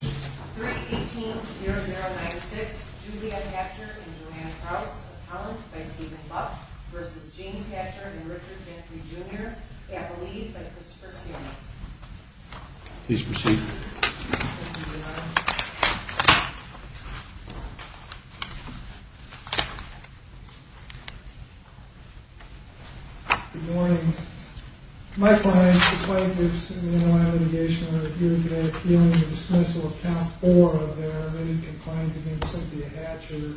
3-18-0096 Juliet Hatcher and Johanna Krauss, appellants by Stephen Buck v. James Hatcher and Richard Gentry, Jr., appellees by Christopher Siemens Please proceed Good morning. My clients, the plaintiffs in the Inland Litigation are here today appealing the dismissal of count four of their already-conclined against Cynthia Hatcher. In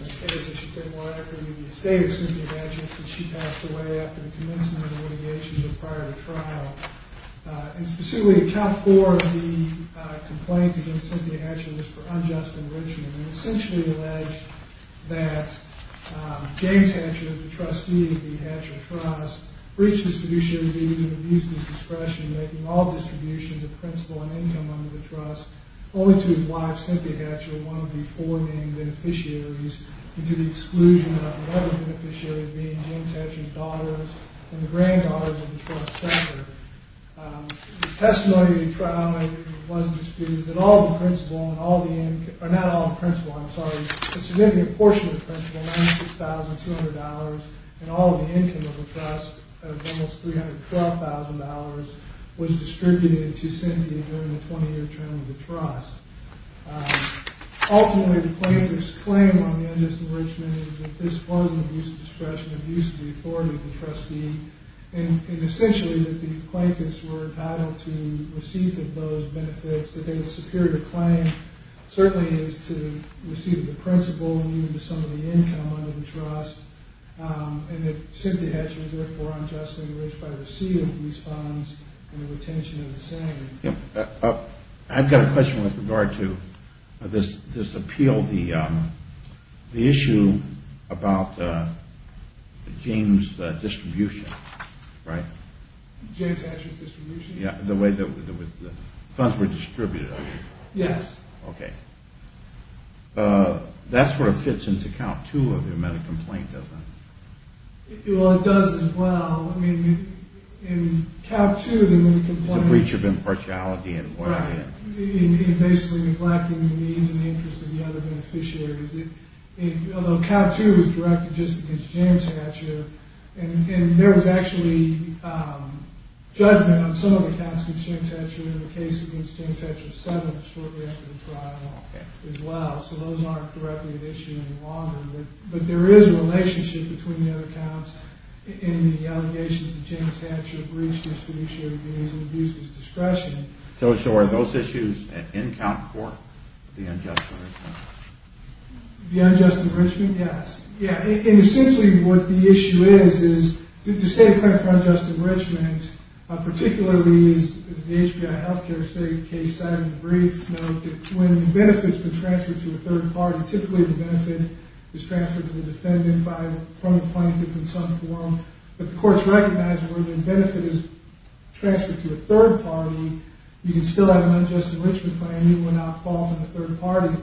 this case, I should say more accurately, the estate of Cynthia Hatcher, since she passed away after the commencement of litigation but prior to trial. And specifically, count four of the complaints against Cynthia Hatcher is for unjust enrichment. They essentially allege that James Hatcher, the trustee of the Hatcher Trust, breached his fiduciary duties and abused his discretion, making all distributions of principal and income under the trust only to his wife, Cynthia Hatcher, one of the four main beneficiaries, and to the exclusion of the other beneficiaries being James Hatcher's daughters and the granddaughters of the trust sector. The testimony of the trial was disputed that all the principal and all the income, or not all the principal, I'm sorry, a significant portion of the principal, $96,200, and all of the income of the trust of almost $312,000, was distributed to Cynthia during the 20-year term of the trust. Ultimately, the plaintiff's claim on the unjust enrichment is that this was an abuse of discretion, abuse of the authority of the trustee, and essentially that the plaintiffs were entitled to receipt of those benefits. That they were superior to claim certainly is to receipt of the principal and even to some of the income under the trust, and that Cynthia Hatcher was therefore unjustly enriched by receipt of these funds and the retention of the same. I've got a question with regard to this appeal, the issue about James' distribution, right? James Hatcher's distribution? Yeah, the way the funds were distributed. Yes. Okay. That sort of fits into count two of the amended complaint, doesn't it? Well, it does as well. I mean, in count two of the amended complaint… It's a breach of impartiality and… Right, and basically neglecting the needs and interests of the other beneficiaries. Although count two was directed just against James Hatcher, and there was actually judgment on some of the counts concerning Hatcher in the case against James Hatcher 7 shortly after the trial as well, so those aren't directly at issue any longer. But there is a relationship between the other counts and the allegations that James Hatcher breached his fiduciary duties and abused his discretion. So are those issues in count four, the unjust enrichment? The unjust enrichment? Yes. Yeah, and essentially what the issue is, is to state a claim for unjust enrichment, particularly as the HBI Healthcare case said in the brief, when the benefit's been transferred to a third party, typically the benefit is transferred to the defendant from the plaintiff in some form, but the court's recognized where the benefit is transferred to a third party, you can still have an unjust enrichment claim even without fault of the third party.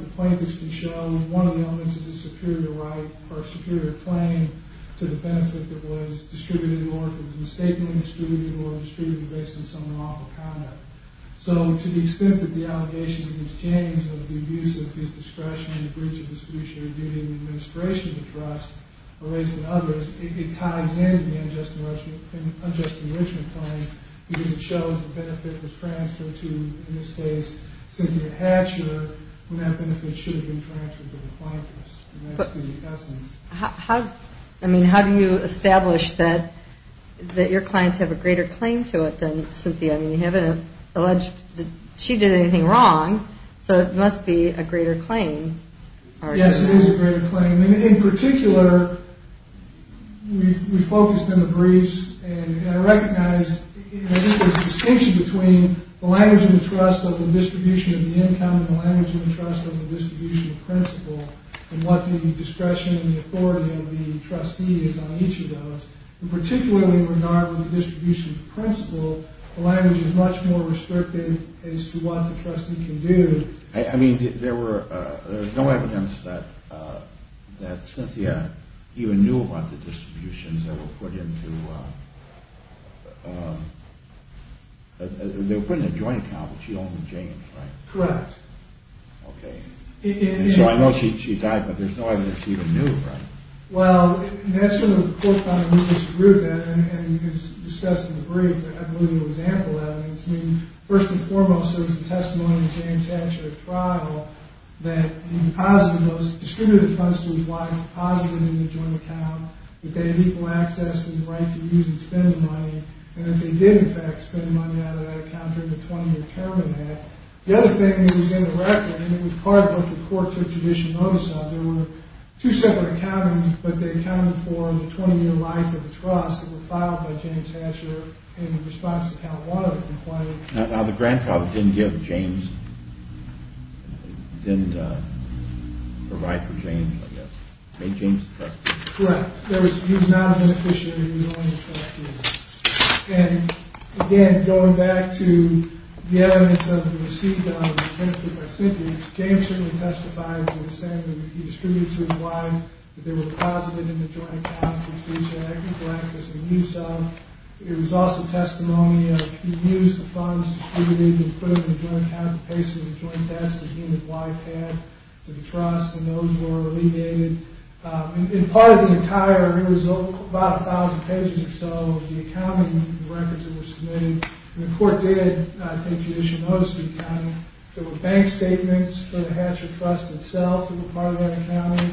So to the extent that the allegations against James and the abuse of his discretion and the breach of his fiduciary duty in the administration of the trust are raising others, it ties in with the unjust enrichment claim because it shows the benefit was transferred to, in this case, Cynthia Hatcher when that benefit was transferred to her. How do you establish that your clients have a greater claim to it than Cynthia? I mean, you haven't alleged that she did anything wrong, so it must be a greater claim. Yes, it is a greater claim, and in particular, we focused in the briefs and recognized the distinction between the language of the trust of the distribution of the income and the language of the trust of the distribution of principle and what the discretion and the authority of the trustee is on each of those, and particularly in regard with the distribution of principle, the language is much more restrictive as to what the trustee can do. I mean, there was no evidence that Cynthia even knew about the distributions that were put into a joint account that she owned with James, right? Correct. Okay, so I know she died, but there's no evidence she even knew, right? Well, that's sort of what the court found, and we disagreed with that, and you can discuss in the brief, but I believe there was ample evidence. I mean, first and foremost, there was a testimony of James Hatcher at trial that he deposited those, distributed the funds to his wife, deposited them in the joint account, that they had equal access and the right to use and spend the money, and that they did, in fact, spend money out of that account during the 20-year term of that. The other thing that was in the record, and it was part of what the court took judicial notice of, there were two separate accountants, but they accounted for the 20-year life of the trust that were filed by James Hatcher in response to count one of them. Now, the grandfather didn't give James, didn't provide for James, I guess, made James the trustee. Correct. He was not an officiator, he was only a trustee. And, again, going back to the evidence of the receipt of the benefit by Cynthia, James certainly testified to the extent that he distributed it to his wife, that they were deposited in the joint account, that they had equal access and use of. It was also testimony of, he used the funds, distributed them, put them in the joint account, basically the joint debts that he and his wife had to the trust, and those were alleviated. In part of the entire, it was about 1,000 pages or so, the accounting records that were submitted, and the court did take judicial notice of the accounting. There were bank statements for the Hatcher Trust itself that were part of that accounting,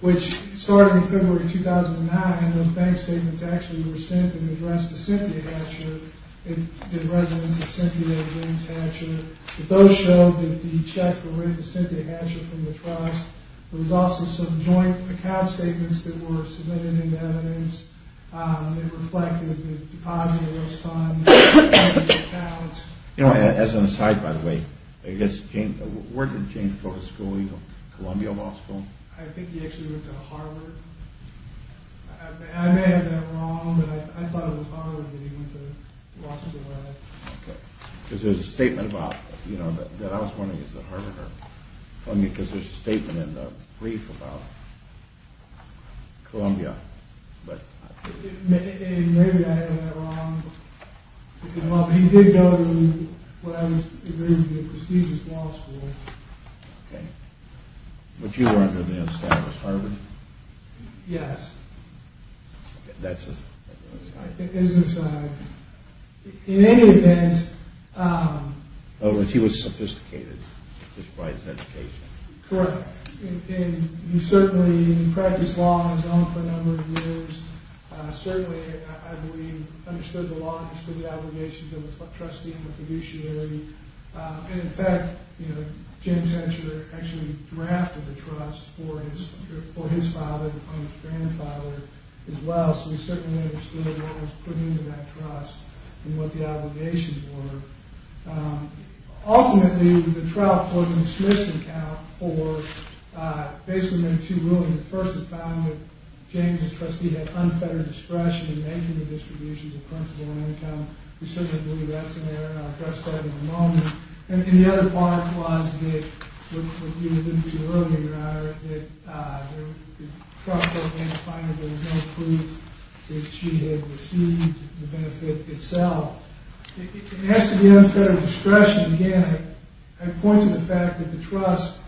which started in February 2009, and those bank statements actually were sent and addressed to Cynthia Hatcher, the residence of Cynthia James Hatcher. It both showed that the checks were written to Cynthia Hatcher from the trust. There was also some joint account statements that were submitted into evidence. They reflected the deposit of those funds, the accounts. As an aside, by the way, where did James go to school? Columbia Law School? I think he actually went to Harvard. I may have that wrong, but I thought it was Harvard that he went to law school at. Okay, because there's a statement about, that I was wondering, is it Harvard or Columbia, because there's a statement in the brief about Columbia. Maybe I have that wrong, but he did go to what I would agree to be a prestigious law school. Okay, but you were under the established Harvard? Yes. That's an aside. In any event... He was sophisticated, despite his education. Correct. He certainly practiced law on his own for a number of years. Certainly, I believe, understood the law, understood the obligations of a trustee and a fiduciary. In fact, James Hatcher actually drafted the trust for his father and his grandfather as well, so we certainly understood what was put into that trust and what the obligations were. Ultimately, the trial court dismissed the account for basically making two rulings. The first is found that James, as trustee, had unfettered discretion in making the distributions of principal and income. We certainly believe that's in there, and I'll address that in a moment. And the other part was that, what you alluded to earlier, Your Honor, that the trust has been defined, but there's no proof that she had received the benefit itself. As to the unfettered discretion, again, I point to the fact that the trust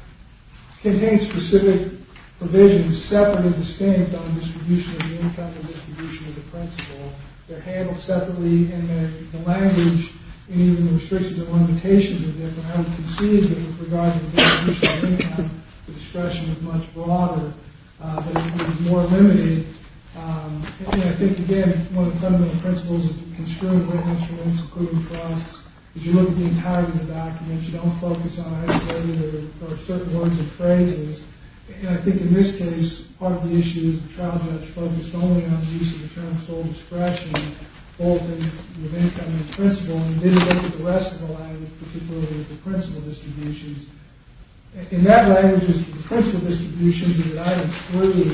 contains specific provisions separate and distinct on distribution of the income and distribution of the principal. They're handled separately, and the language and even the restrictions and limitations are different. I would concede that, with regard to the distribution of income, the discretion is much broader, but it would be more limited. And I think, again, one of the fundamental principles of the construed witness rulings, including trust, is you look at the entirety of the documents. And I think, in this case, part of the issue is the trial judge focused only on the use of the term sole discretion, both in the income and the principal, and didn't look at the rest of the language, particularly with the principal distributions. And that language was for the principal distributions that I referred to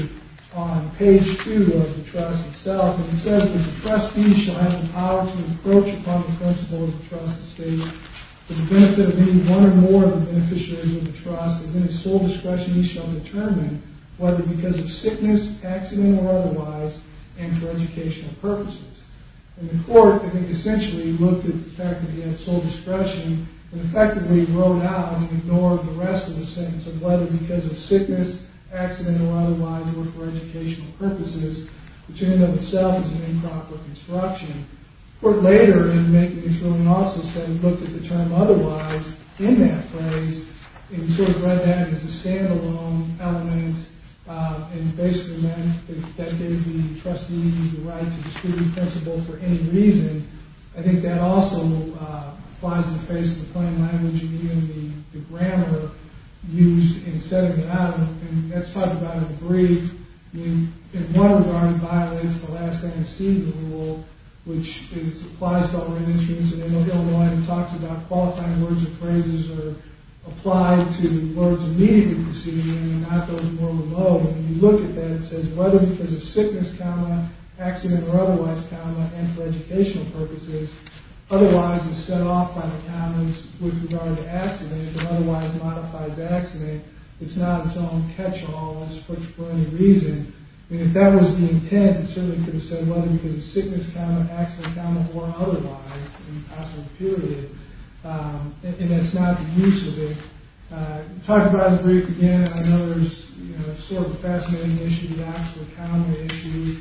on page 2 of the trust itself. And it says that the trustee shall have the power to approach upon the principal of the trust estate for the benefit of any one or more of the beneficiaries of the trust. As in his sole discretion, he shall determine whether because of sickness, accident, or otherwise, and for educational purposes. And the court, I think, essentially looked at the fact that he had sole discretion and effectively wrote out and ignored the rest of the sentence of whether because of sickness, accident, or otherwise, or for educational purposes, which in and of itself is an improper construction. The court later in making this ruling also said he looked at the term otherwise in that phrase, and he sort of read that as a stand-alone element, and basically meant that that gave the trustee the right to exclude the principal for any reason. I think that also flies in the face of the plain language and even the grammar used in setting it out. And let's talk about it in brief. In one regard, violence is the last thing to see in the rule, which applies to all registries. And I know Hildreth talks about qualifying words and phrases are applied to words immediately preceding them and not those more below. When you look at that, it says whether because of sickness, accident, or otherwise, and for educational purposes. Otherwise is set off by the countenance with regard to accident. Otherwise modifies accident. It's not its own catch-all for any reason. If that was the intent, it certainly could have said whether because of sickness, accident, or otherwise, in the possible period. And that's not the use of it. Talk about it in brief again. I know there's sort of a fascinating issue, the accident-accounting issue,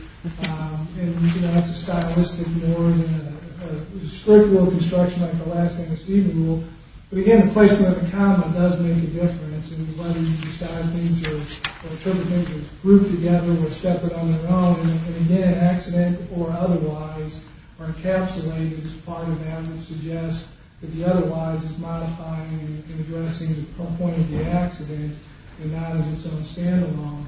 and that's a stylistic more than a strict rule of construction like the last thing to see in the rule. But again, the placement of a comma does make a difference in whether you decide things are grouped together or separate on their own. And again, accident or otherwise are encapsulated as part of that and suggest that the otherwise is modifying and addressing the point of the accident and not as its own stand-alone.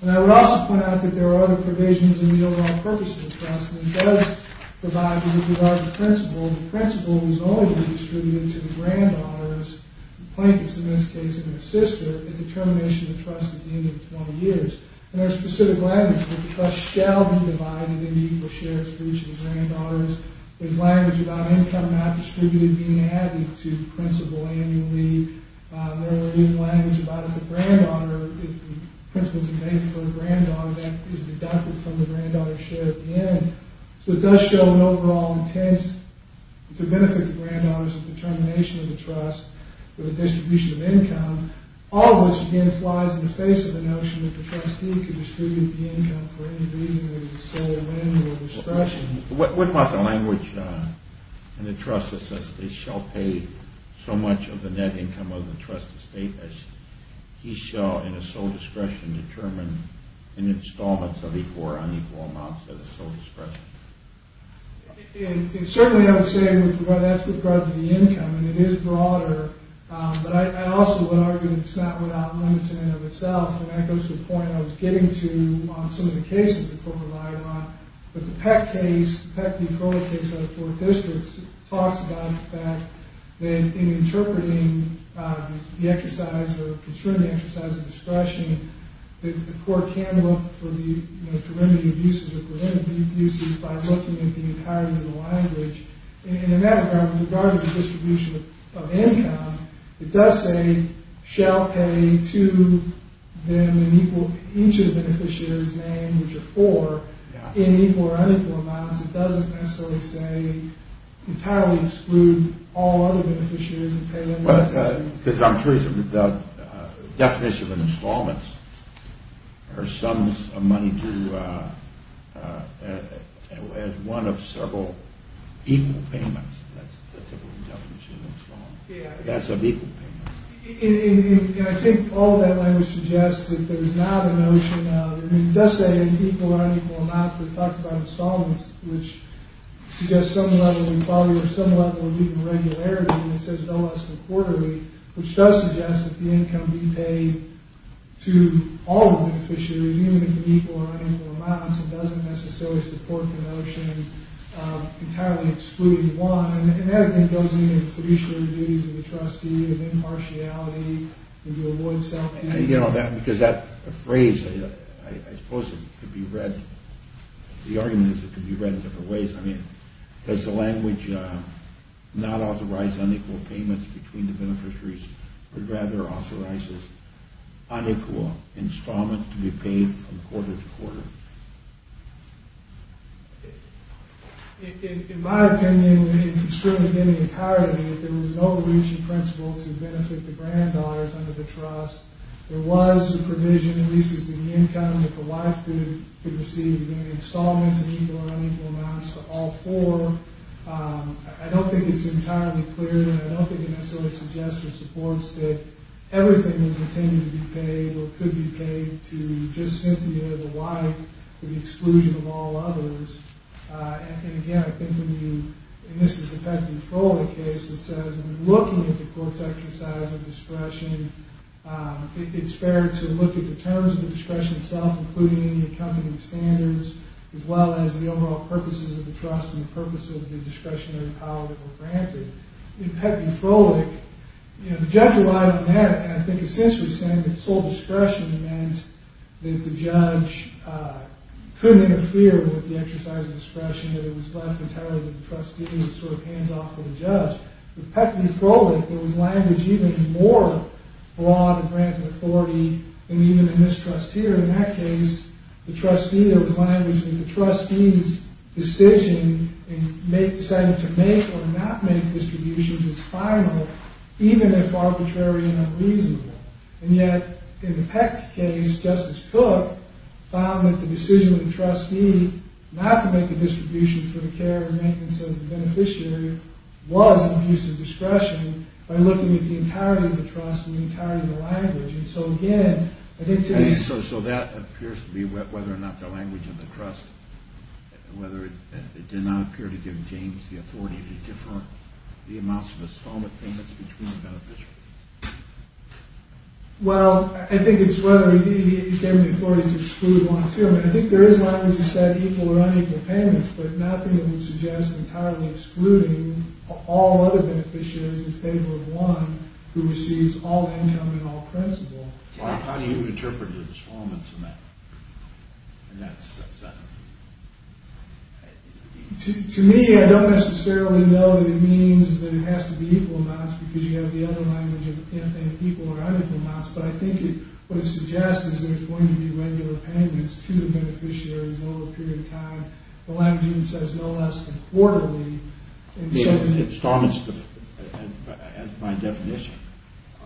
And I would also point out that there are other provisions in the overall purpose of the precedent that does provide with regard to principle. The principle is only to be distributed to the granddaughters, the plaintiffs in this case and their sister, at the termination of the trust at the end of 20 years. And there's specific language that the trust shall be divided into equal shares for each of the granddaughters. There's language about income not distributed being added to the principle annually. There is language about if a granddaughter, if the principle is made for a granddaughter, that is deducted from the granddaughter's share at the end. So it does show an overall intent to benefit the granddaughters at the termination of the trust with a distribution of income, all of which again flies in the face of the notion that the trustee can distribute the income for any reason of his sole whim or discretion. What about the language in the trust that says they shall pay so much of the net income of the trust estate as he shall in his sole discretion determine in installments of equal or unequal amounts as a sole discretion? And certainly I would say that's with regard to the income, and it is broader, but I also would argue that it's not without limits in and of itself, and that goes to the point I was getting to on some of the cases that the court provided on. But the Peck case, the Peck v. Crowley case out of four districts, talks about the fact that in interpreting the exercise or construing the exercise of discretion, the court can look for the remedy of uses or preventative uses by looking at the entirety of the language. And in that regard, with regard to the distribution of income, it does say shall pay to them an equal, each of the beneficiaries' name, which are four, in equal or unequal amounts. It doesn't necessarily say entirely exclude all other beneficiaries Because I'm curious about the definition of installments, or sums of money to add one of several equal payments. That's a different definition of installments. Yeah. That's of equal payments. And I think all of that language suggests that there's not a notion of, it does say equal or unequal amounts, but it talks about installments, which suggests some level of equality or some level of even regularity, and it says no less than quarterly, which does suggest that the income be paid to all the beneficiaries, even if in equal or unequal amounts. It doesn't necessarily support the notion of entirely excluding one. And that, I think, goes into the fiduciary duties of the trustee, of impartiality, and to avoid self-defeating. Because that phrase, I suppose it could be read, the argument is it could be read in different ways. I mean, does the language not authorize unequal payments between the beneficiaries, but rather authorizes unequal installments to be paid from quarter to quarter? In my opinion, it could certainly be in the entirety. If there was an overreaching principle to benefit the granddaughters under the trust, there was a provision, at least as to the income that the wife could receive, and installments in equal or unequal amounts to all four. I don't think it's entirely clear, and I don't think it necessarily suggests or supports that everything is intended to be paid or could be paid to just simply the wife with the exclusion of all others. And, again, I think when you, and this is the Petty Trolley case that says, I mean, looking at the court's exercise of discretion, I think it's fair to look at the terms of the discretion itself, including any accompanying standards, as well as the overall purposes of the trust and the purpose of the discretionary power that were granted. In Petty Trolley, you know, the judge relied on that, and I think essentially saying that sole discretion meant that the judge couldn't interfere with the exercise of discretion, that it was left entirely to the trustee as a sort of hands-off to the judge. With Petty Trolley, there was language even more broad and granted authority, and even a mistrust here. In that case, the trustee, there was language that the trustee's decision in deciding to make or not make distributions is final, even if arbitrary and unreasonable. And yet, in the Peck case, Justice Cook found that the decision of the trustee not to make a distribution for the care and maintenance of the beneficiary was an abuse of discretion by looking at the entirety of the trust and the entirety of the language. And so, again, I think today... So that appears to be whether or not the language of the trust, whether it did not appear to give James the authority to defer the amounts of installment payments between the beneficiaries. Well, I think it's whether he gave him the authority to exclude one or two. I think there is language that said equal or unequal payments, but nothing that would suggest entirely excluding all other beneficiaries in favor of one who receives all income in all principle. How do you interpret the installment amount in that sense? To me, I don't necessarily know that it means that it has to be equal amounts because you have the other language of equal or unequal amounts, but I think what it suggests is there's going to be regular payments to the beneficiaries over a period of time. The language even says no less than quarterly. The installments, by definition,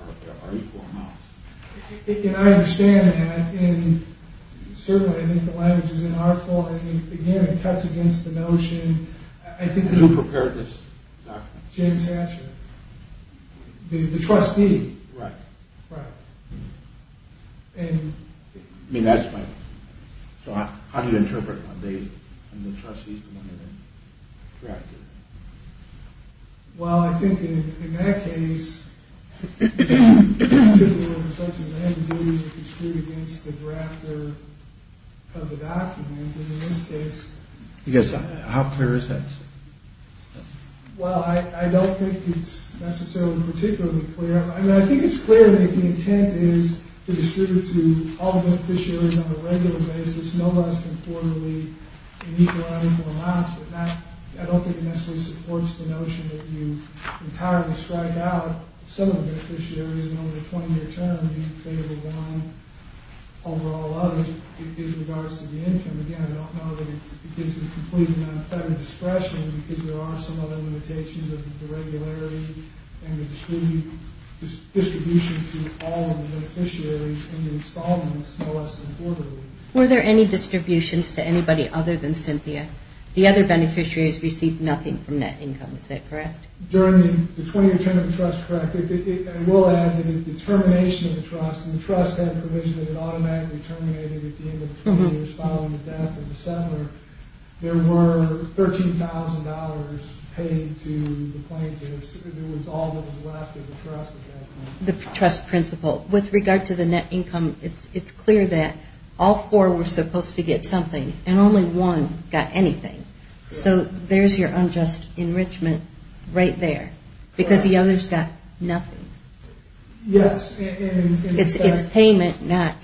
are equal amounts. And I understand that. And certainly, I think the language is in our fault. And, again, it cuts against the notion. Who prepared this document? James Hatcher, the trustee. Right. Right. I mean, that's my point. So how do you interpret when the trustee is the one who drafted it? Well, I think in that case, the typical instruction is that the duties are construed against the drafter of the document. And in this case, How clear is that? Well, I don't think it's necessarily particularly clear. I mean, I think it's clear that the intent is to distribute to all beneficiaries on a regular basis, no less than quarterly, in equal or unequal amounts. But I don't think it necessarily supports the notion that you entirely strike out some of the beneficiaries and over a 20-year term, you favor one over all others. It gives regards to the income. Again, I don't know that it gives a complete and unfettered expression because there are some other limitations of the regularity and the distribution to all of the beneficiaries and the installments, no less than quarterly. Were there any distributions to anybody other than Cynthia? The other beneficiaries received nothing from that income, is that correct? During the 20-year term of the trust, correct. I will add that the termination of the trust, and the trust had provision that it automatically terminated at the end of the 20 years following the death of the settler, there were $13,000 paid to the plaintiffs. It was all that was left of the trust at that point. The trust principle. With regard to the net income, it's clear that all four were supposed to get something and only one got anything. So there's your unjust enrichment right there because the others got nothing. Yes. It's payment, not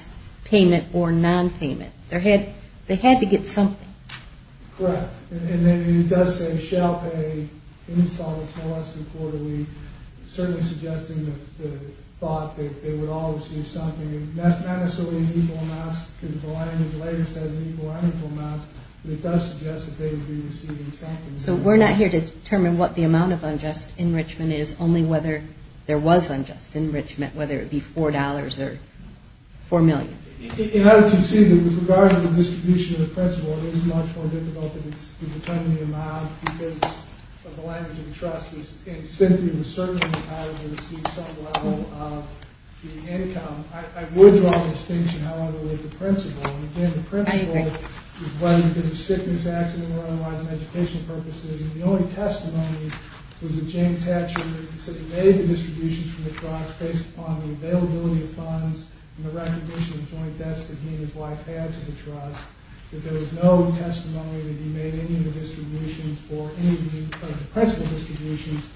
payment or non-payment. They had to get something. Correct. And then it does say shall pay installments no less than quarterly, certainly suggesting the thought that they would all receive something. That's not necessarily an equal amount because the language later says an equal or unequal amount, but it does suggest that they would be receiving something. So we're not here to determine what the amount of unjust enrichment is, only whether there was unjust enrichment, whether it be $4 or $4 million. And I would concede that with regard to the distribution of the principle, it is much more difficult to determine the amount because of the language of the trust. And Cynthia was certainly entitled to receive some level of the income. I would draw the distinction, however, with the principle. And, again, the principle was whether because of sickness, accident, or otherwise, and educational purposes. And the only testimony was that James Hatcher said he made the distributions from the trust based upon the availability of funds and the recognition of joint debts that he and his wife had to the trust, that there was no testimony that he made any of the distributions or any of the principal distributions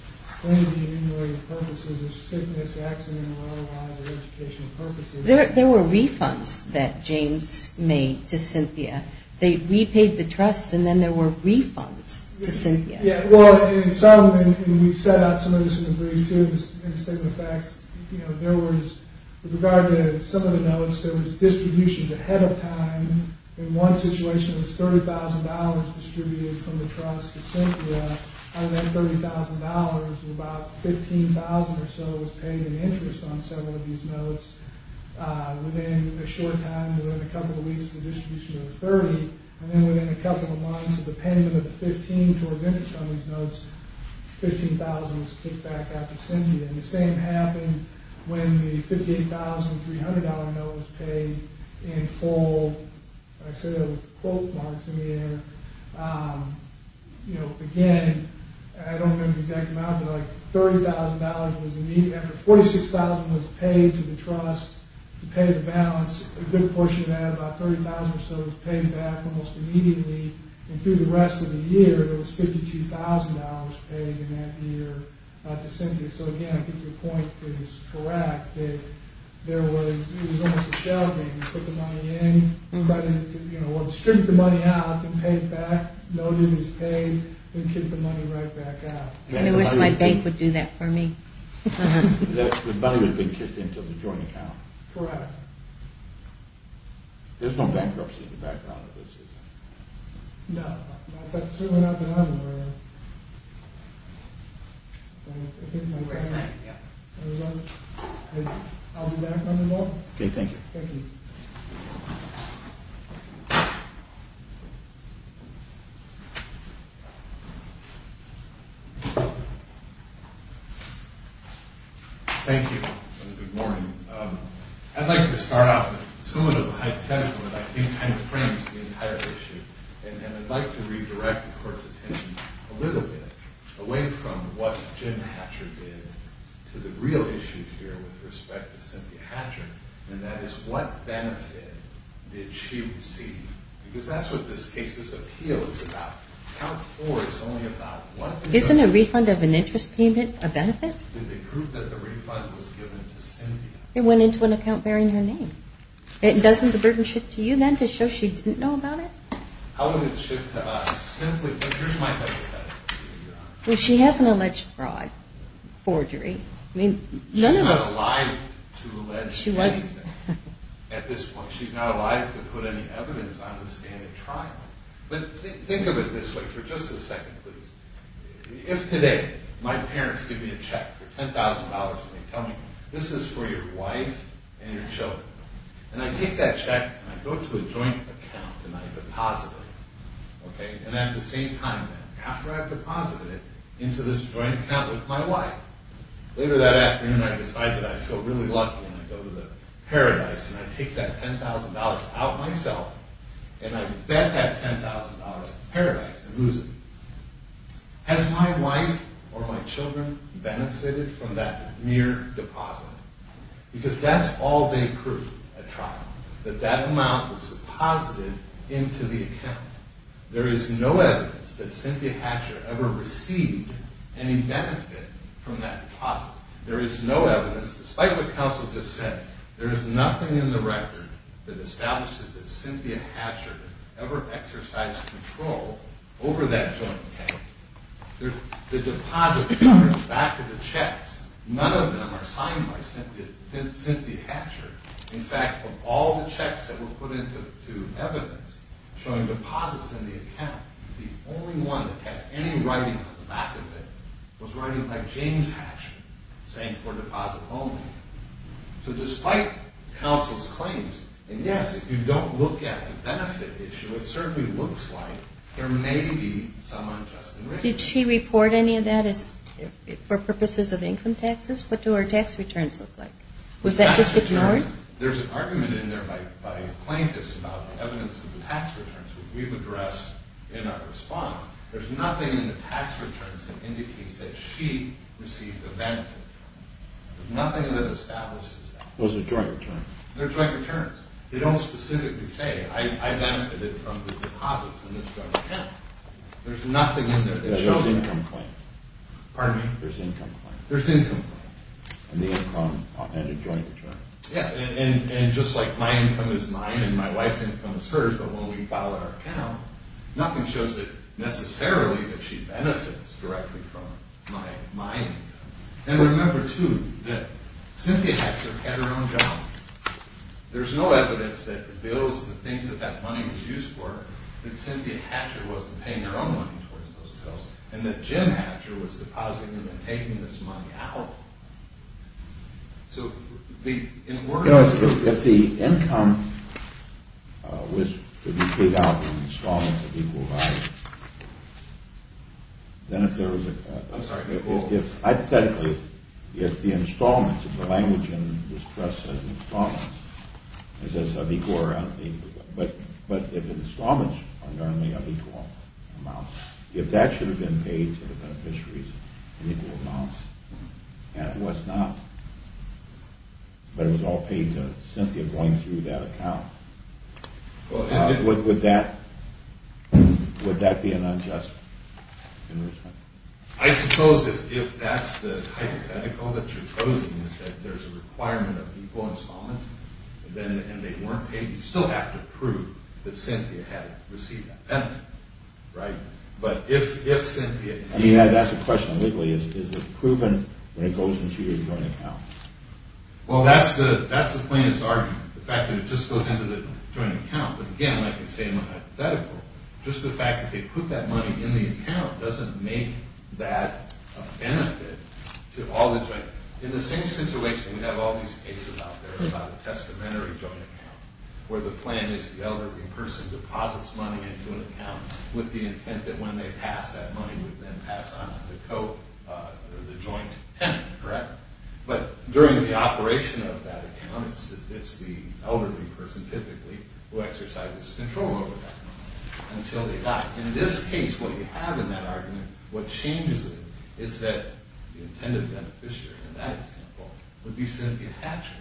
or any of the enumerated purposes of sickness, accident, or otherwise, or educational purposes. There were refunds that James made to Cynthia. They repaid the trust, and then there were refunds to Cynthia. Yeah, well, in some, and we set out some of this in the brief, too, in the statement of facts, you know, there was, with regard to some of the notes, there was distributions ahead of time. In one situation, it was $30,000 distributed from the trust to Cynthia. Out of that $30,000, about $15,000 or so was paid in interest on several of these notes. Within a short time, within a couple of weeks, the distribution was $30,000. And then within a couple of months of the payment of the $15,000 towards interest on these notes, $15,000 was kicked back out to Cynthia. And the same happened when the $58,300 note was paid in full. I see the quote marks in the air. You know, again, I don't remember the exact amount, but like $30,000 was the median. After $46,000 was paid to the trust to pay the balance, a good portion of that, about $30,000 or so, was paid back almost immediately. And through the rest of the year, it was $52,000 paid in that year to Cynthia. So, again, I think your point is correct that there was, it was almost a shell game. You put the money in, credit, you know, or strip the money out and pay it back, note it as paid, then kick the money right back out. I wish my bank would do that for me. The money would have been kicked into the joint account. Correct. There's no bankruptcy in the background of this, is there? No, but certainly not that I'm aware of. I'll be back on the phone. Okay, thank you. Thank you. Thank you. Good morning. I'd like to start off with some of the hypothetical that I think kind of frames the entire issue. And I'd like to redirect the Court's attention a little bit away from what Jim Hatcher did to the real issue here with respect to Cynthia Hatcher, and that is what benefit did she receive? Because that's what this case's appeal is about. Account four is only about what? Isn't a refund of an interest payment a benefit? Did they prove that the refund was given to Cynthia? It went into an account bearing her name. Doesn't the burden shift to you then to show she didn't know about it? How would it shift to us? Simply, but here's my hypothetical for you, Your Honor. Well, she has an alleged fraud, forgery. She's not alive to allege anything at this point. She's not alive to put any evidence on the stand at trial. But think of it this way for just a second, please. If today my parents give me a check for $10,000 and they tell me, this is for your wife and your children, and I take that check and I go to a joint account and I deposit it, and at the same time, after I've deposited it into this joint account with my wife, later that afternoon I decide that I feel really lucky and I go to the Paradise and I take that $10,000 out myself and I bet that $10,000 at Paradise and lose it. Has my wife or my children benefited from that mere deposit? Because that's all they proved at trial, that that amount was deposited into the account. There is no evidence that Cynthia Hatcher ever received any benefit from that deposit. There is no evidence, despite what counsel just said, there is nothing in the record that establishes that Cynthia Hatcher ever exercised control over that joint account. The deposits are in the back of the checks. None of them are signed by Cynthia Hatcher. In fact, of all the checks that were put into evidence showing deposits in the account, the only one that had any writing on the back of it was writing like James Hatcher, saying for deposit only. So despite counsel's claims, and yes, if you don't look at the benefit issue, it certainly looks like there may be some unjust arrangement. Did she report any of that for purposes of income taxes? What do her tax returns look like? Was that just ignored? There's an argument in there by plaintiffs about the evidence of the tax returns, which we've addressed in our response. There's nothing in the tax returns that indicates that she received a benefit. There's nothing that establishes that. Those are joint returns. They're joint returns. They don't specifically say, I benefited from the deposits in this joint account. There's nothing in there that shows that. There's income claim. Pardon me? There's income claim. There's income claim. And a joint return. Yeah, and just like my income is mine and my wife's income is hers, but when we file our account, nothing shows that necessarily that she benefits directly from my income. And remember, too, that Cynthia Hatcher had her own job. There's no evidence that the bills, the things that that money was used for, and that Jim Hatcher was depositing them and taking this money out. So in a word, If the income was to be paid out in installments of equal value, then if there was a I'm sorry, equal Hypothetically, if the installments, if the language in this press says installments, it says of equal or unequal value, but if installments are normally of equal amount, if that should have been paid to the beneficiaries in equal amounts, and it was not, but it was all paid to Cynthia going through that account, would that be an unjust enrichment? I suppose if that's the hypothetical that you're posing is that there's a requirement of equal installments, and they weren't paid, you'd still have to prove that Cynthia had received that benefit, right? But if Cynthia I mean, that's the question, legally. Is it proven when it goes into your joint account? Well, that's the plaintiff's argument, the fact that it just goes into the joint account. But again, like I say in the hypothetical, just the fact that they put that money in the account doesn't make that a benefit to all the joint In the same situation, we have all these cases out there about a testamentary joint account where the plan is the elderly person deposits money into an account with the intent that when they pass, that money would then pass on to the joint tenant, correct? But during the operation of that account, it's the elderly person typically who exercises control over that money until they die. In this case, what you have in that argument, what changes it is that the intended beneficiary in that example would be Cynthia Hatcher.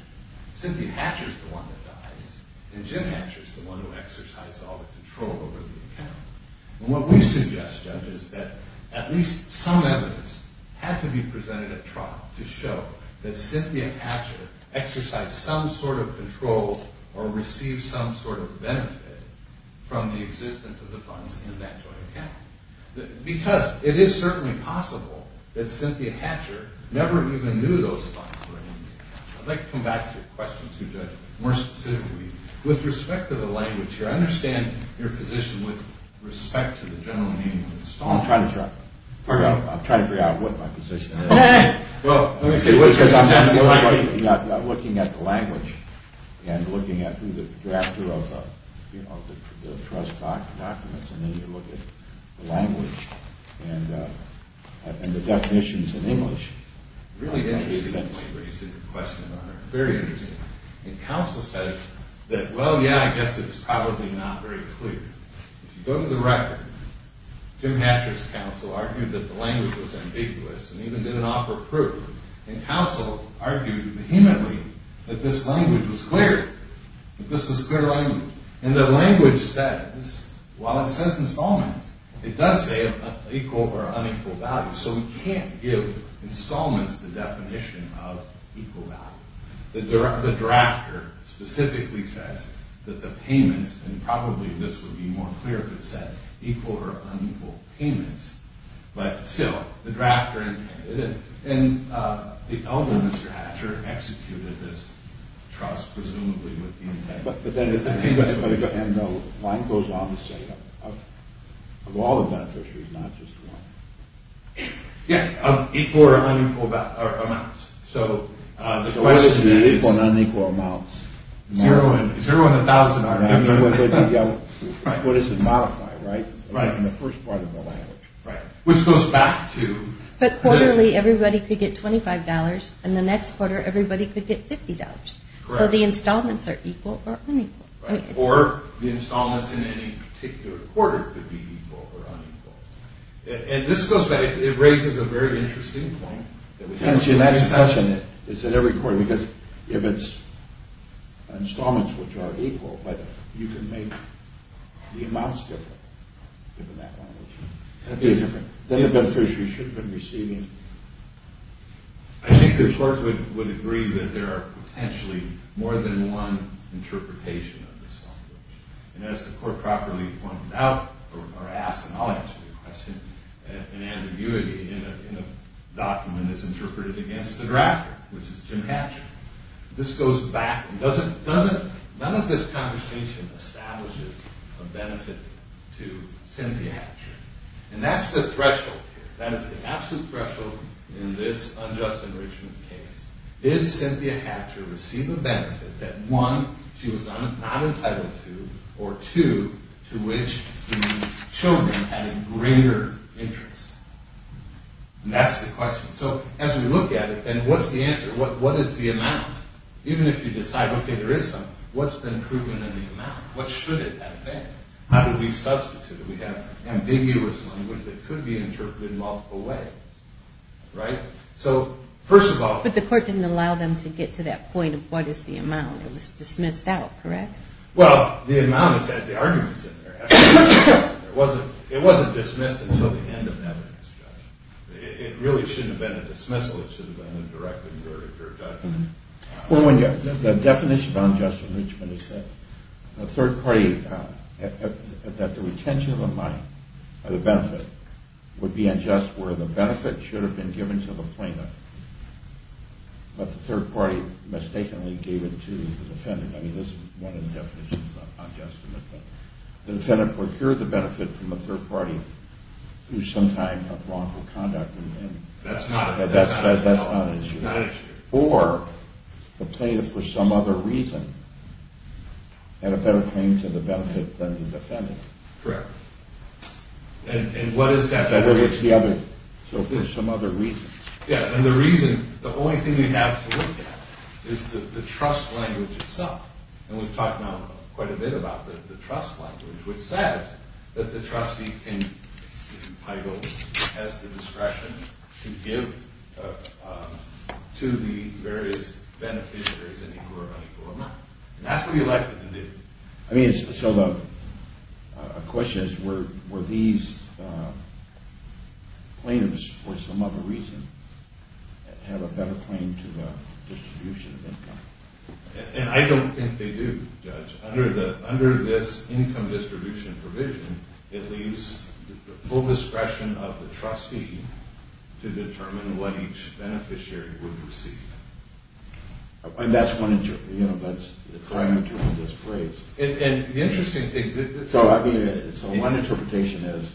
Cynthia Hatcher is the one that dies, and Jim Hatcher is the one who exercised all the control over the account. And what we suggest, Judge, is that at least some evidence had to be presented at trial to show that Cynthia Hatcher exercised some sort of control or received some sort of benefit from the existence of the funds in that joint account. Because it is certainly possible that Cynthia Hatcher never even knew those funds were in the account. I'd like to come back to your question, too, Judge, more specifically. With respect to the language here, I understand your position with respect to the general meaning of the installment. I'm trying to figure out what my position is. Well, let me see. I'm looking at the language and looking at who the drafter of the trust documents, and then you look at the language and the definitions in English. It's really interesting the way you raise the question, Your Honor. Very interesting. And counsel says that, well, yeah, I guess it's probably not very clear. If you go to the record, Jim Hatcher's counsel argued that the language was ambiguous and even didn't offer proof. And counsel argued vehemently that this language was clear, that this was clear language, and that language says, while it says installment, it does say equal or unequal value. So we can't give installments the definition of equal value. The drafter specifically says that the payments, and probably this would be more clear if it said equal or unequal payments, but still, the drafter intended it. And the elder, Mr. Hatcher, executed this trust presumably with the intent... And the line goes on to say of all the beneficiaries, not just one. Yeah, of equal or unequal amounts. So the question is... So what is the equal and unequal amounts? Zero and a thousand are different. What is the modifier, right, in the first part of the language? Right, which goes back to... But quarterly, everybody could get $25, and the next quarter, everybody could get $50. So the installments are equal or unequal. Right, or the installments in any particular quarter could be equal or unequal. And this goes back, it raises a very interesting point. And that discussion is at every quarter, because if it's installments which are equal, but you can make the amounts different, given that language. Then the beneficiary should have been receiving... I think the court would agree that there are potentially more than one interpretation of this language. And as the court properly pointed out, or asked, and I'll answer your question, an ambiguity in a document is interpreted against the drafter, which is Jim Hatcher. This goes back and doesn't... None of this conversation establishes a benefit to Cynthia Hatcher. And that's the threshold here. That is the absolute threshold in this unjust enrichment case. Did Cynthia Hatcher receive a benefit that, one, she was not entitled to, or two, to which the children had a greater interest? And that's the question. So as we look at it, and what's the answer? What is the amount? Even if you decide, okay, there is some, what's been proven in the amount? What should it have been? How do we substitute it? We have ambiguous language that could be interpreted in multiple ways. Right? So, first of all... But the court didn't allow them to get to that point of what is the amount. It was dismissed out, correct? Well, the amount is that the argument is in there. It wasn't dismissed until the end of that discussion. It really shouldn't have been a dismissal. It should have been a directed verdict or a judgment. Well, the definition of unjust enrichment is that the third party, that the retention of the money, or the benefit, would be unjust where the benefit should have been given to the plaintiff, but the third party mistakenly gave it to the defendant. I mean, this is one of the definitions of unjust enrichment. The defendant procured the benefit from the third party through some kind of wrongful conduct. That's not an issue. Or the plaintiff, for some other reason, had a better claim to the benefit than the defendant. Correct. And what is that benefit? So, there's some other reasons. Yeah, and the reason, the only thing we have to look at is the trust language itself. And we've talked now quite a bit about the trust language, which says that the trustee is entitled, has the discretion, to give to the various beneficiaries in equal or unequal amount. And that's what we elected to do. I mean, so the question is, were these plaintiffs, for some other reason, have a better claim to the distribution of income? And I don't think they do, Judge. Under this income distribution provision, it leaves the full discretion of the trustee to determine what each beneficiary would receive. And that's one, you know, that's the triumvirate of this phrase. And the interesting thing, the... So, I mean, so one interpretation is,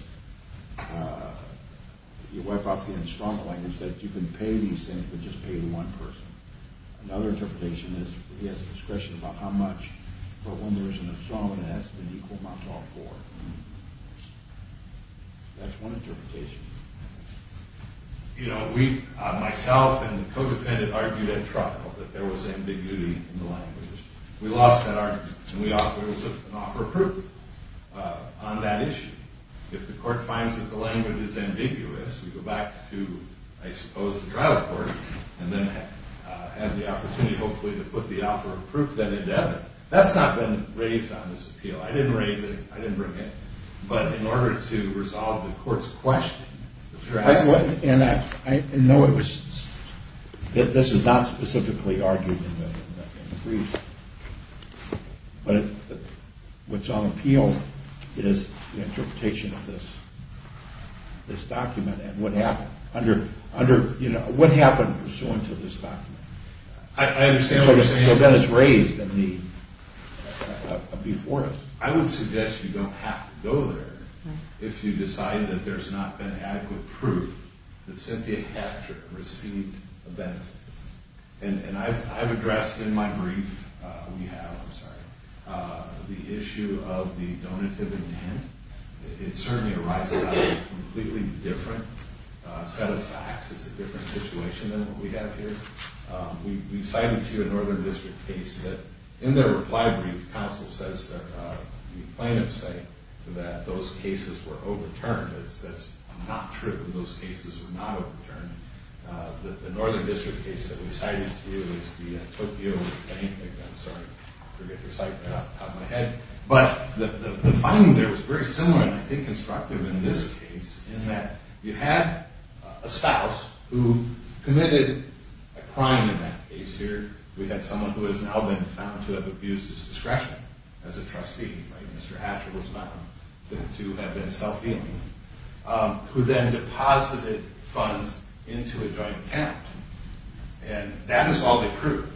you wipe off the instrumental language, that you can pay these things, but just pay one person. Another interpretation is, he has discretion about how much, but when there isn't a strong investment, equal amounts all four. That's one interpretation. You know, we, myself and the co-defendant, argued at trial that there was ambiguity in the language. We lost that argument. And we offered an offer of proof on that issue. If the court finds that the language is ambiguous, we go back to, I suppose, the trial court, and then have the opportunity, hopefully, to put the offer of proof that it does. That's not been raised on this appeal. I didn't raise it. I didn't bring it. But in order to resolve the court's question... I wouldn't... No, it was... This is not specifically argued in the brief. But what's on appeal is the interpretation of this document and what happened, you know, what happened pursuant to this document. I understand what you're saying. So then it's raised in the before us. I would suggest you don't have to go there if you decide that there's not been adequate proof that Cynthia Hatcher received a benefit. And I've addressed in my brief, we have, I'm sorry, the issue of the donative intent. It certainly arises out of a completely different set of facts. It's a different situation than what we have here. We cited to you a Northern District case that, in their reply brief, counsel says that the plaintiffs say that those cases were overturned. That's not true, that those cases were not overturned. The Northern District case that we cited to you is the Tokyo plaintiff. I'm sorry, I forget the site off the top of my head. But the finding there was very similar, and I think constructive in this case, in that you had a spouse who committed a crime in that case here. We had someone who has now been found to have abused his discretion as a trustee. Mr. Hatcher was found to have been self-healing, who then deposited funds into a joint account. And that is all they proved.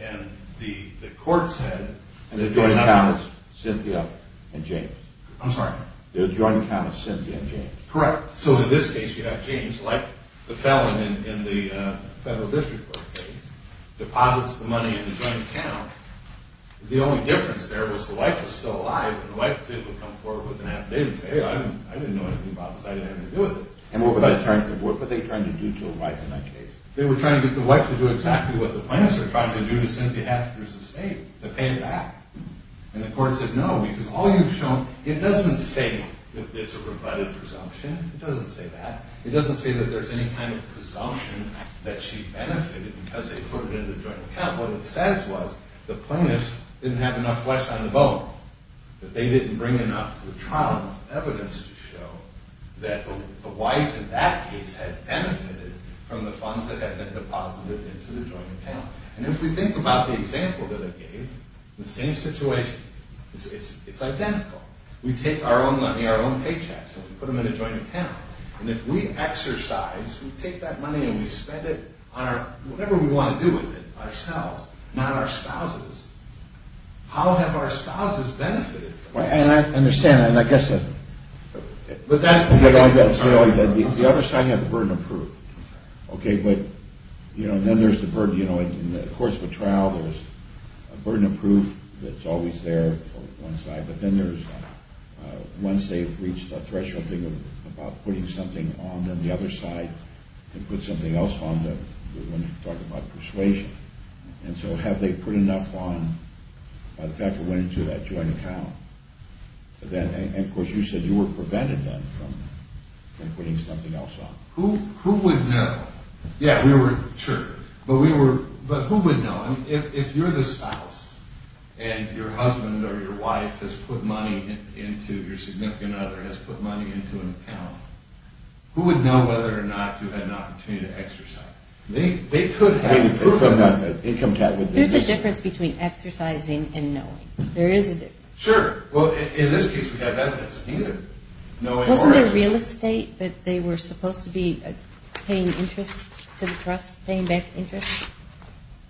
And the court said... The joint account is Cynthia and James. I'm sorry? The joint account is Cynthia and James. Correct. So in this case you have James, like the felon in the Federal District Court case, deposits the money in the joint account. The only difference there was the wife was still alive, and the wife would come forward with an affidavit and say, hey, I didn't know anything about this, I didn't have anything to do with it. And what were they trying to do to a wife in that case? They were trying to get the wife to do exactly what the plaintiffs were trying to do to Cynthia Hatcher's estate, to pay it back. And the court said no, because all you've shown... It doesn't say that it's a rebutted presumption. It doesn't say that. It doesn't say that there's any kind of presumption that she benefited because they put it in the joint account. What it says was the plaintiffs didn't have enough flesh on the bone, that they didn't bring enough to the trial, enough evidence to show that the wife in that case had benefited from the funds that had been deposited into the joint account. And if we think about the example that I gave, the same situation, it's identical. We take our own money, our own paychecks, and we put them in a joint account. And if we exercise, we take that money and we spend it on whatever we want to do with it, ourselves, not our spouses. How have our spouses benefited from this? And I understand, and I guess... But that... The other side had the burden of proof. Okay, but, you know, then there's the burden, you know, in the course of a trial, there's a burden of proof that's always there on one side, but then there's, once they've reached a threshold, think about putting something on them, the other side, and put something else on them when you talk about persuasion. And so have they put enough on by the fact that it went into that joint account? And, of course, you said you were prevented then from putting something else on. Who would know? Yeah, we were... But who would know? I mean, if you're the spouse, and your husband or your wife has put money into your significant other, has put money into an account, who would know whether or not you had an opportunity to exercise? They could have proof of that. There's a difference between exercising and knowing. There is a difference. Sure. Well, in this case, we have evidence of either. Wasn't there real estate that they were supposed to be paying interest to the trust, paying back interest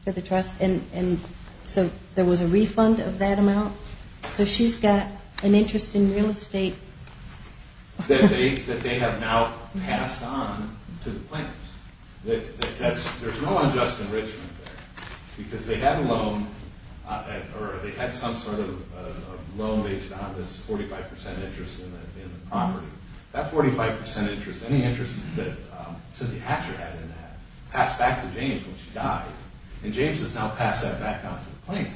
to the trust? And so there was a refund of that amount. So she's got an interest in real estate. That they have now passed on to the plaintiffs. There's no unjust enrichment there. Because they had a loan, or they had some sort of loan based on this 45% interest in the property. That 45% interest, any interest that Cynthia Hatcher had in that, passed back to James when she died. And James has now passed that back on to the plaintiffs.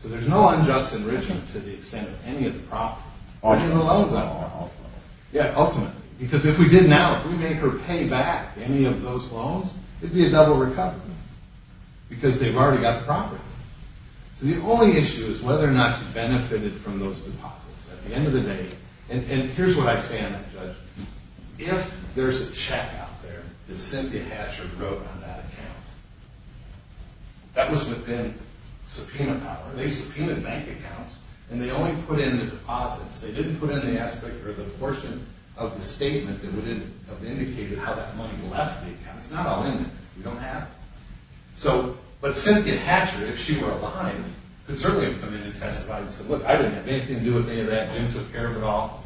So there's no unjust enrichment to the extent of any of the property. Or even the loans, I don't know. Yeah, ultimately. Because if we did now, if we made her pay back any of those loans, it'd be a double recovery. Because they've already got the property. So the only issue is whether or not she benefited from those deposits. At the end of the day, and here's what I say on that judgment. If there's a check out there that Cynthia Hatcher wrote on that account, that was within subpoena power. They subpoenaed bank accounts. And they only put in the deposits. They didn't put in the aspect or the portion of the statement that would have indicated how that money left the account. It's not all in there. You don't have it. But Cynthia Hatcher, if she were alive, could certainly have come in and testified and said, look, I didn't have anything to do with any of that. Jim took care of it all.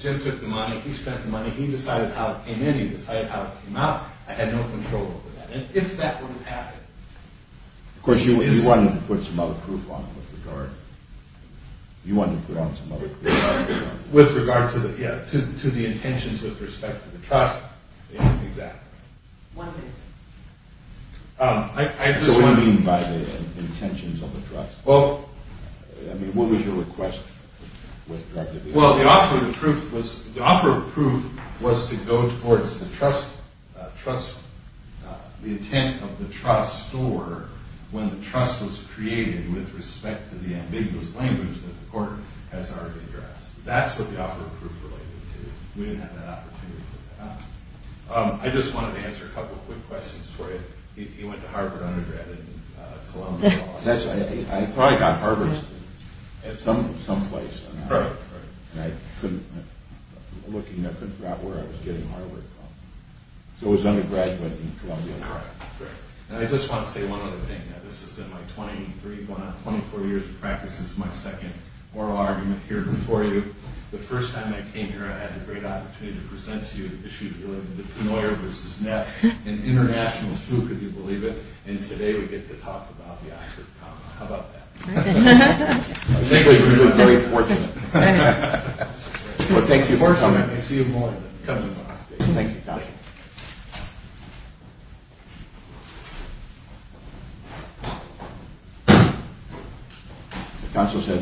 Jim took the money. He spent the money. He decided how it came in. He decided how it came out. I had no control over that. And if that would have happened... Of course, you wanted to put some other proof on it with regard... You wanted to put on some other proof. With regard to the intentions with respect to the trust. Exactly. One minute. So what do you mean by the intentions of the trust? Well... I mean, what was your request? Well, the offer of proof was to go towards the intent of the trust or when the trust was created with respect to the ambiguous language that the court has already addressed. That's what the offer of proof related to. We didn't have that opportunity for that. I just wanted to answer a couple of quick questions for you. You went to Harvard undergrad and Columbia Law. That's right. I thought I got Harvard some place. Right. And I couldn't... I couldn't figure out where I was getting Harvard from. So it was undergraduate and Columbia Law. Right. And I just want to say one other thing. This is in my 23, 24 years of practice. This is my second oral argument here before you. The first time I came here, I had the great opportunity to present to you the issues related to Pennoyer versus Neff. An international spook, if you believe it. And today we get to talk about the Oxford comma. How about that? I think we've been very fortunate. Well, thank you for coming. I see you more than coming to our stage. Thank you, Counselor. I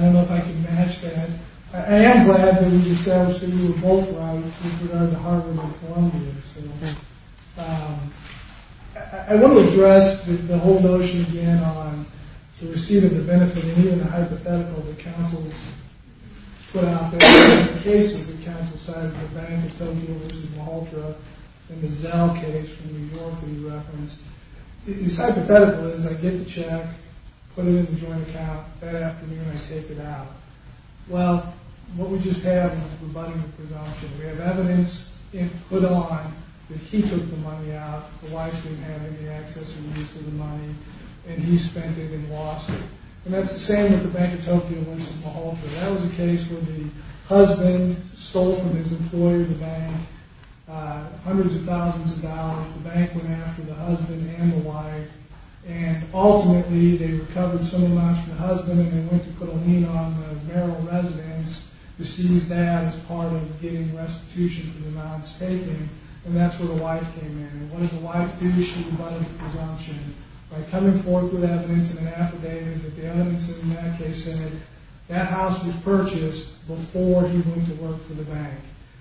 don't know if I can match that. I am glad that we've established that you were both right with regard to Harvard and Columbia. I want to address the whole notion again on the receipt of the benefit and even the hypothetical that Counsel put out there. The case that Counsel cited for Bank of Tokyo versus Malta and the Zell case from New York that he referenced. His hypothetical is I get the check, put it in the joint account, that afternoon I take it out. Well, what we just have is a rebuttal presumption. We have evidence put on that he took the money out. The wife didn't have any access or use to the money, and he spent it and lost it. And that's the same with the Bank of Tokyo versus Malta. That was a case where the husband stole from his employer, the bank, hundreds of thousands of dollars. The bank went after the husband and the wife, and ultimately they recovered some of the money from the husband and they went to put a lien on the marital residence to seize that as part of getting restitution for the amounts taken, and that's where the wife came in. And what did the wife do? She rebutted the presumption by coming forth with evidence in an affidavit that the evidence in that case said that house was purchased before he went to work for the bank,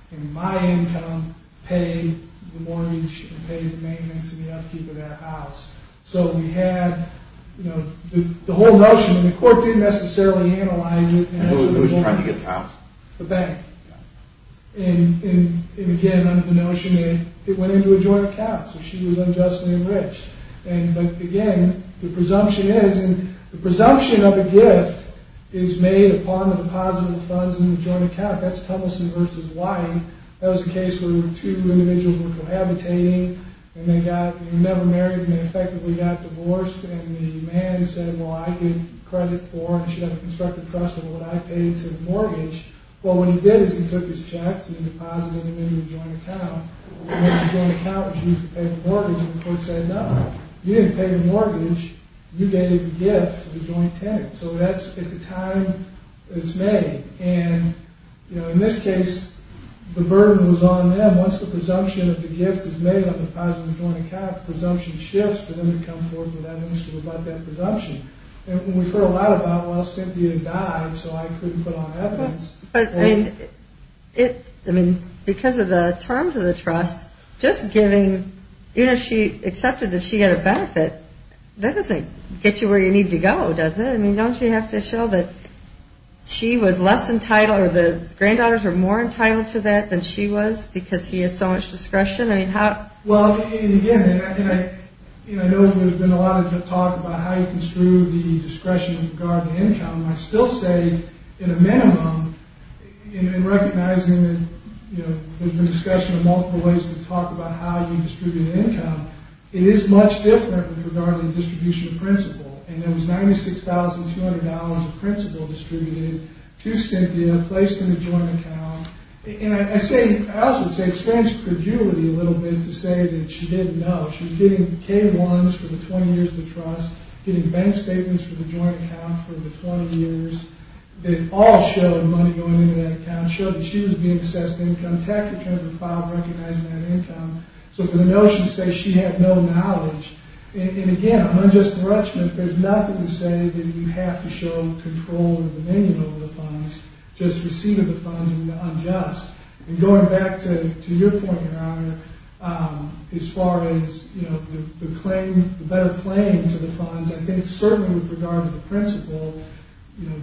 and my income paid the mortgage and paid the maintenance and the upkeep of that house. So we had the whole notion, and the court didn't necessarily analyze it. Who was trying to get the house? The bank. And again, under the notion, it went into a joint account, so she was unjustly enriched. But again, the presumption is, and the presumption of a gift is made upon the deposit of the funds in the joint account. That's Tumbleson versus Wyden. That was a case where two individuals were cohabitating and they never married and they effectively got divorced, and the man said, well, I get credit for it, and I should have a constructive trust in what I paid to the mortgage. Well, what he did is he took his checks and he deposited them in the joint account. The joint account was used to pay the mortgage, and the court said, no, you didn't pay the mortgage, you gave the gift to the joint tenant. So that's at the time it's made. And in this case, the burden was on them. Once the presumption of the gift is made on the deposit of the joint account, the presumption shifts to when they come forth with evidence to rebut that presumption. And we've heard a lot about, well, Cynthia died, so I couldn't put on evidence. But, I mean, because of the terms of the trust, just giving, even if she accepted that she had a benefit, that doesn't get you where you need to go, does it? I mean, don't you have to show that she was less entitled or the granddaughters were more entitled to that than she was because he has so much discretion? Well, again, I know there's been a lot of talk about how you construe the discretion with regard to income. I still say, in a minimum, in recognizing that, you know, there's been discussion of multiple ways to talk about how you distribute income, it is much different with regard to the distribution principle. And there was $96,200 of principle distributed to Cynthia, placed in the joint account. And I say, I also would say experience perjury a little bit to say that she didn't know. She was getting K-1s for the 20 years of the trust, getting bank statements for the joint account for the 20 years. They all showed money going into that account, showed that she was being assessed income, tax returns were filed recognizing that income. So, for the notion to say she had no knowledge, and again, unjust enrichment, there's nothing to say that you have to show control or dominion over the funds, just receiving the funds is unjust. And going back to your point, Your Honor, as far as, you know, the claim, the better claim to the funds, I think certainly with regard to the principle, you know,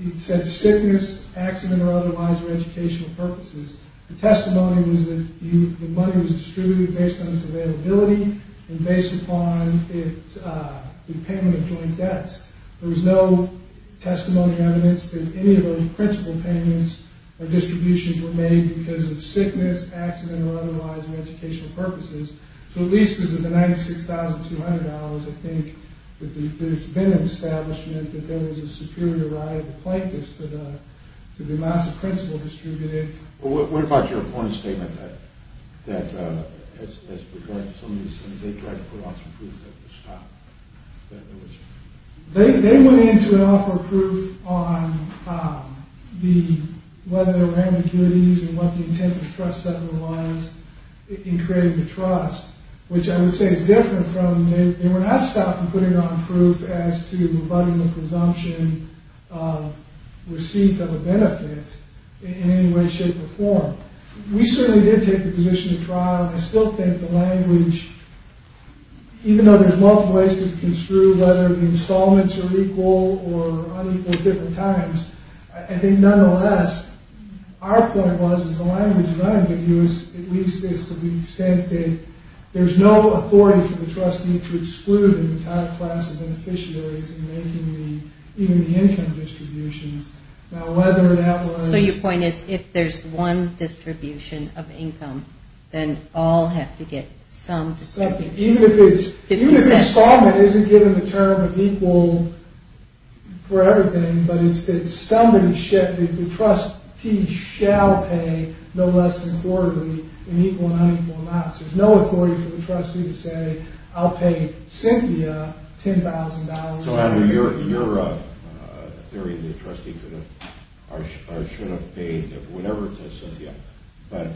it said sickness, accident, or otherwise for educational purposes. The testimony was that the money was distributed based on its availability, and based upon the payment of joint debts. There was no testimony evidence that any of those principle payments or distributions were made because of sickness, accident, or otherwise for educational purposes. So, at least because of the $96,200, I think that there's been an establishment that there was a superior right of the plaintiffs to the amounts of principle distributed. Well, what about your opponent's statement that as regards to some of these things, they tried to put on some proof that the stock, that it was... They went in to offer proof on whether there were ambiguities in what the intent of the trust settlement was in creating the trust, which I would say is different from... They were not stopped from putting on proof as to rebutting the presumption of receipt of a benefit in any way, shape, or form. We certainly did take the position of trial, and I still think the language... Even though there's multiple ways to construe whether the installments are equal or unequal at different times, I think nonetheless, our point was, the language that I would use is to the extent that there's no authority for the trust to exclude the entire class of beneficiaries in making the income distributions. Now, whether that was... So, your point is, if there's one distribution of income, then all have to get some distribution. Even if it's... Even if the installment isn't given the term of equal for everything, but instead, the trustee shall pay no less than quarterly in equal and unequal amounts. There's no authority for the trustee to say, I'll pay Cynthia $10,000... So, Adam, your theory is that the trustee should have paid whatever it says, Cynthia, but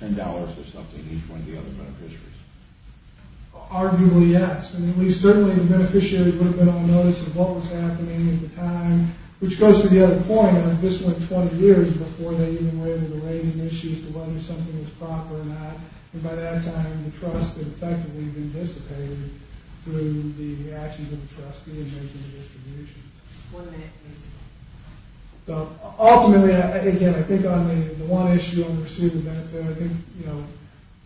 $10 or something each one of the other beneficiaries. Arguably, yes. Certainly, the beneficiary would have been on notice of what was happening at the time, which goes to the other point. This went 20 years before they even were able to raise an issue as to whether something was proper or not. And by that time, the trust had effectively been dissipated through the actions of the trustee in making the distribution. One minute, please. So, ultimately, again, I think on the one issue on receiving the benefit, I think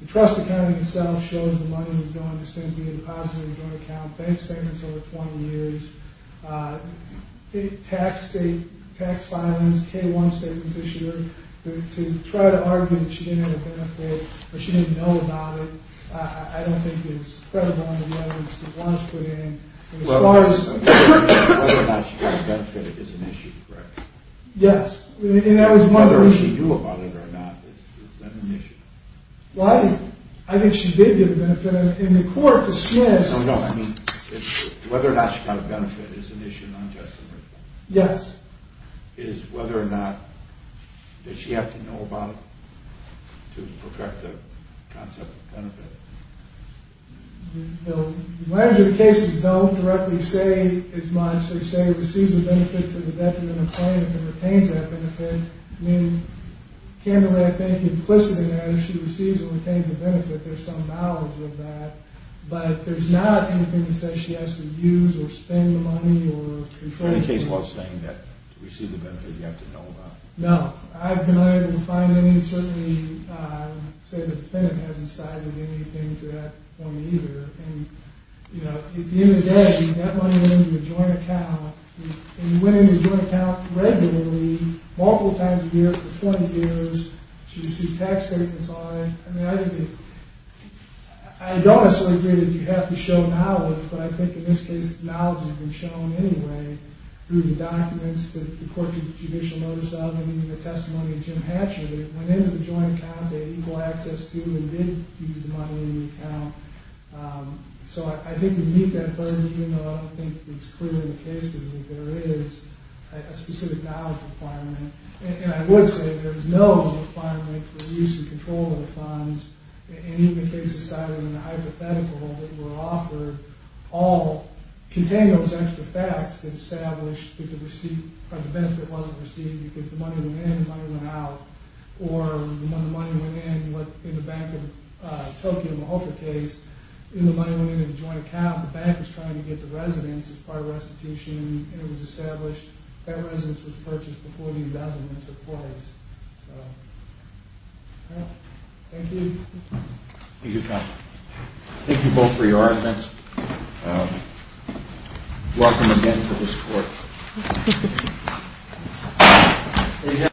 the trust accounting itself shows the money was going to Cynthia in a positive joint account. Bank statements over 20 years. Tax statements, K-1 statements this year. To try to argue that she didn't have a benefit or she didn't know about it, I don't think it's credible in the evidence that was put in. Whether or not she got a benefit is an issue, correct? Yes. Whether she knew about it or not is an issue. Well, I think she did get a benefit. No, no, I mean, whether or not she got a benefit is an issue. Yes. Is whether or not did she have to know about it to protect the concept of benefit? The lawyers in the cases don't directly say as much. They say it receives a benefit to the debtor in a claim if it retains that benefit. I mean, if she receives or retains a benefit, there's some knowledge of that. But there's not anything that says she has to use or spend the money or control the money. In any case, to receive the benefit, do you have to know about it? No. I've been unable to find anything to say the defendant has incited anything to that point either. At the end of the day, that money went into a joint account and went into a joint account regularly multiple times a year for 20 years. She received tax statements on it. I mean, I think it I don't necessarily agree that you have to show knowledge, but I think in this case knowledge has been shown anyway through the documents that the court judicial notice of and even the testimony of Jim Hatcher that it went into the joint account they had equal access to and did use the money in the account. So I think to meet that burden, even though I don't think it's clear in the cases that there is a specific knowledge requirement and I would say there is no requirement for use and control of the funds in any of the cases cited in the hypothetical that were offered all contain those extra facts that establish that the benefit wasn't received because the money went in, the money went out or when the money went in, what in the Bank of Tokyo Malta case, when the money went into the joint account, the bank was trying to get the residence as part of restitution and it was established that residence was purchased before these elements were placed. Thank you. Thank you both for your arguments. Welcome again to this court.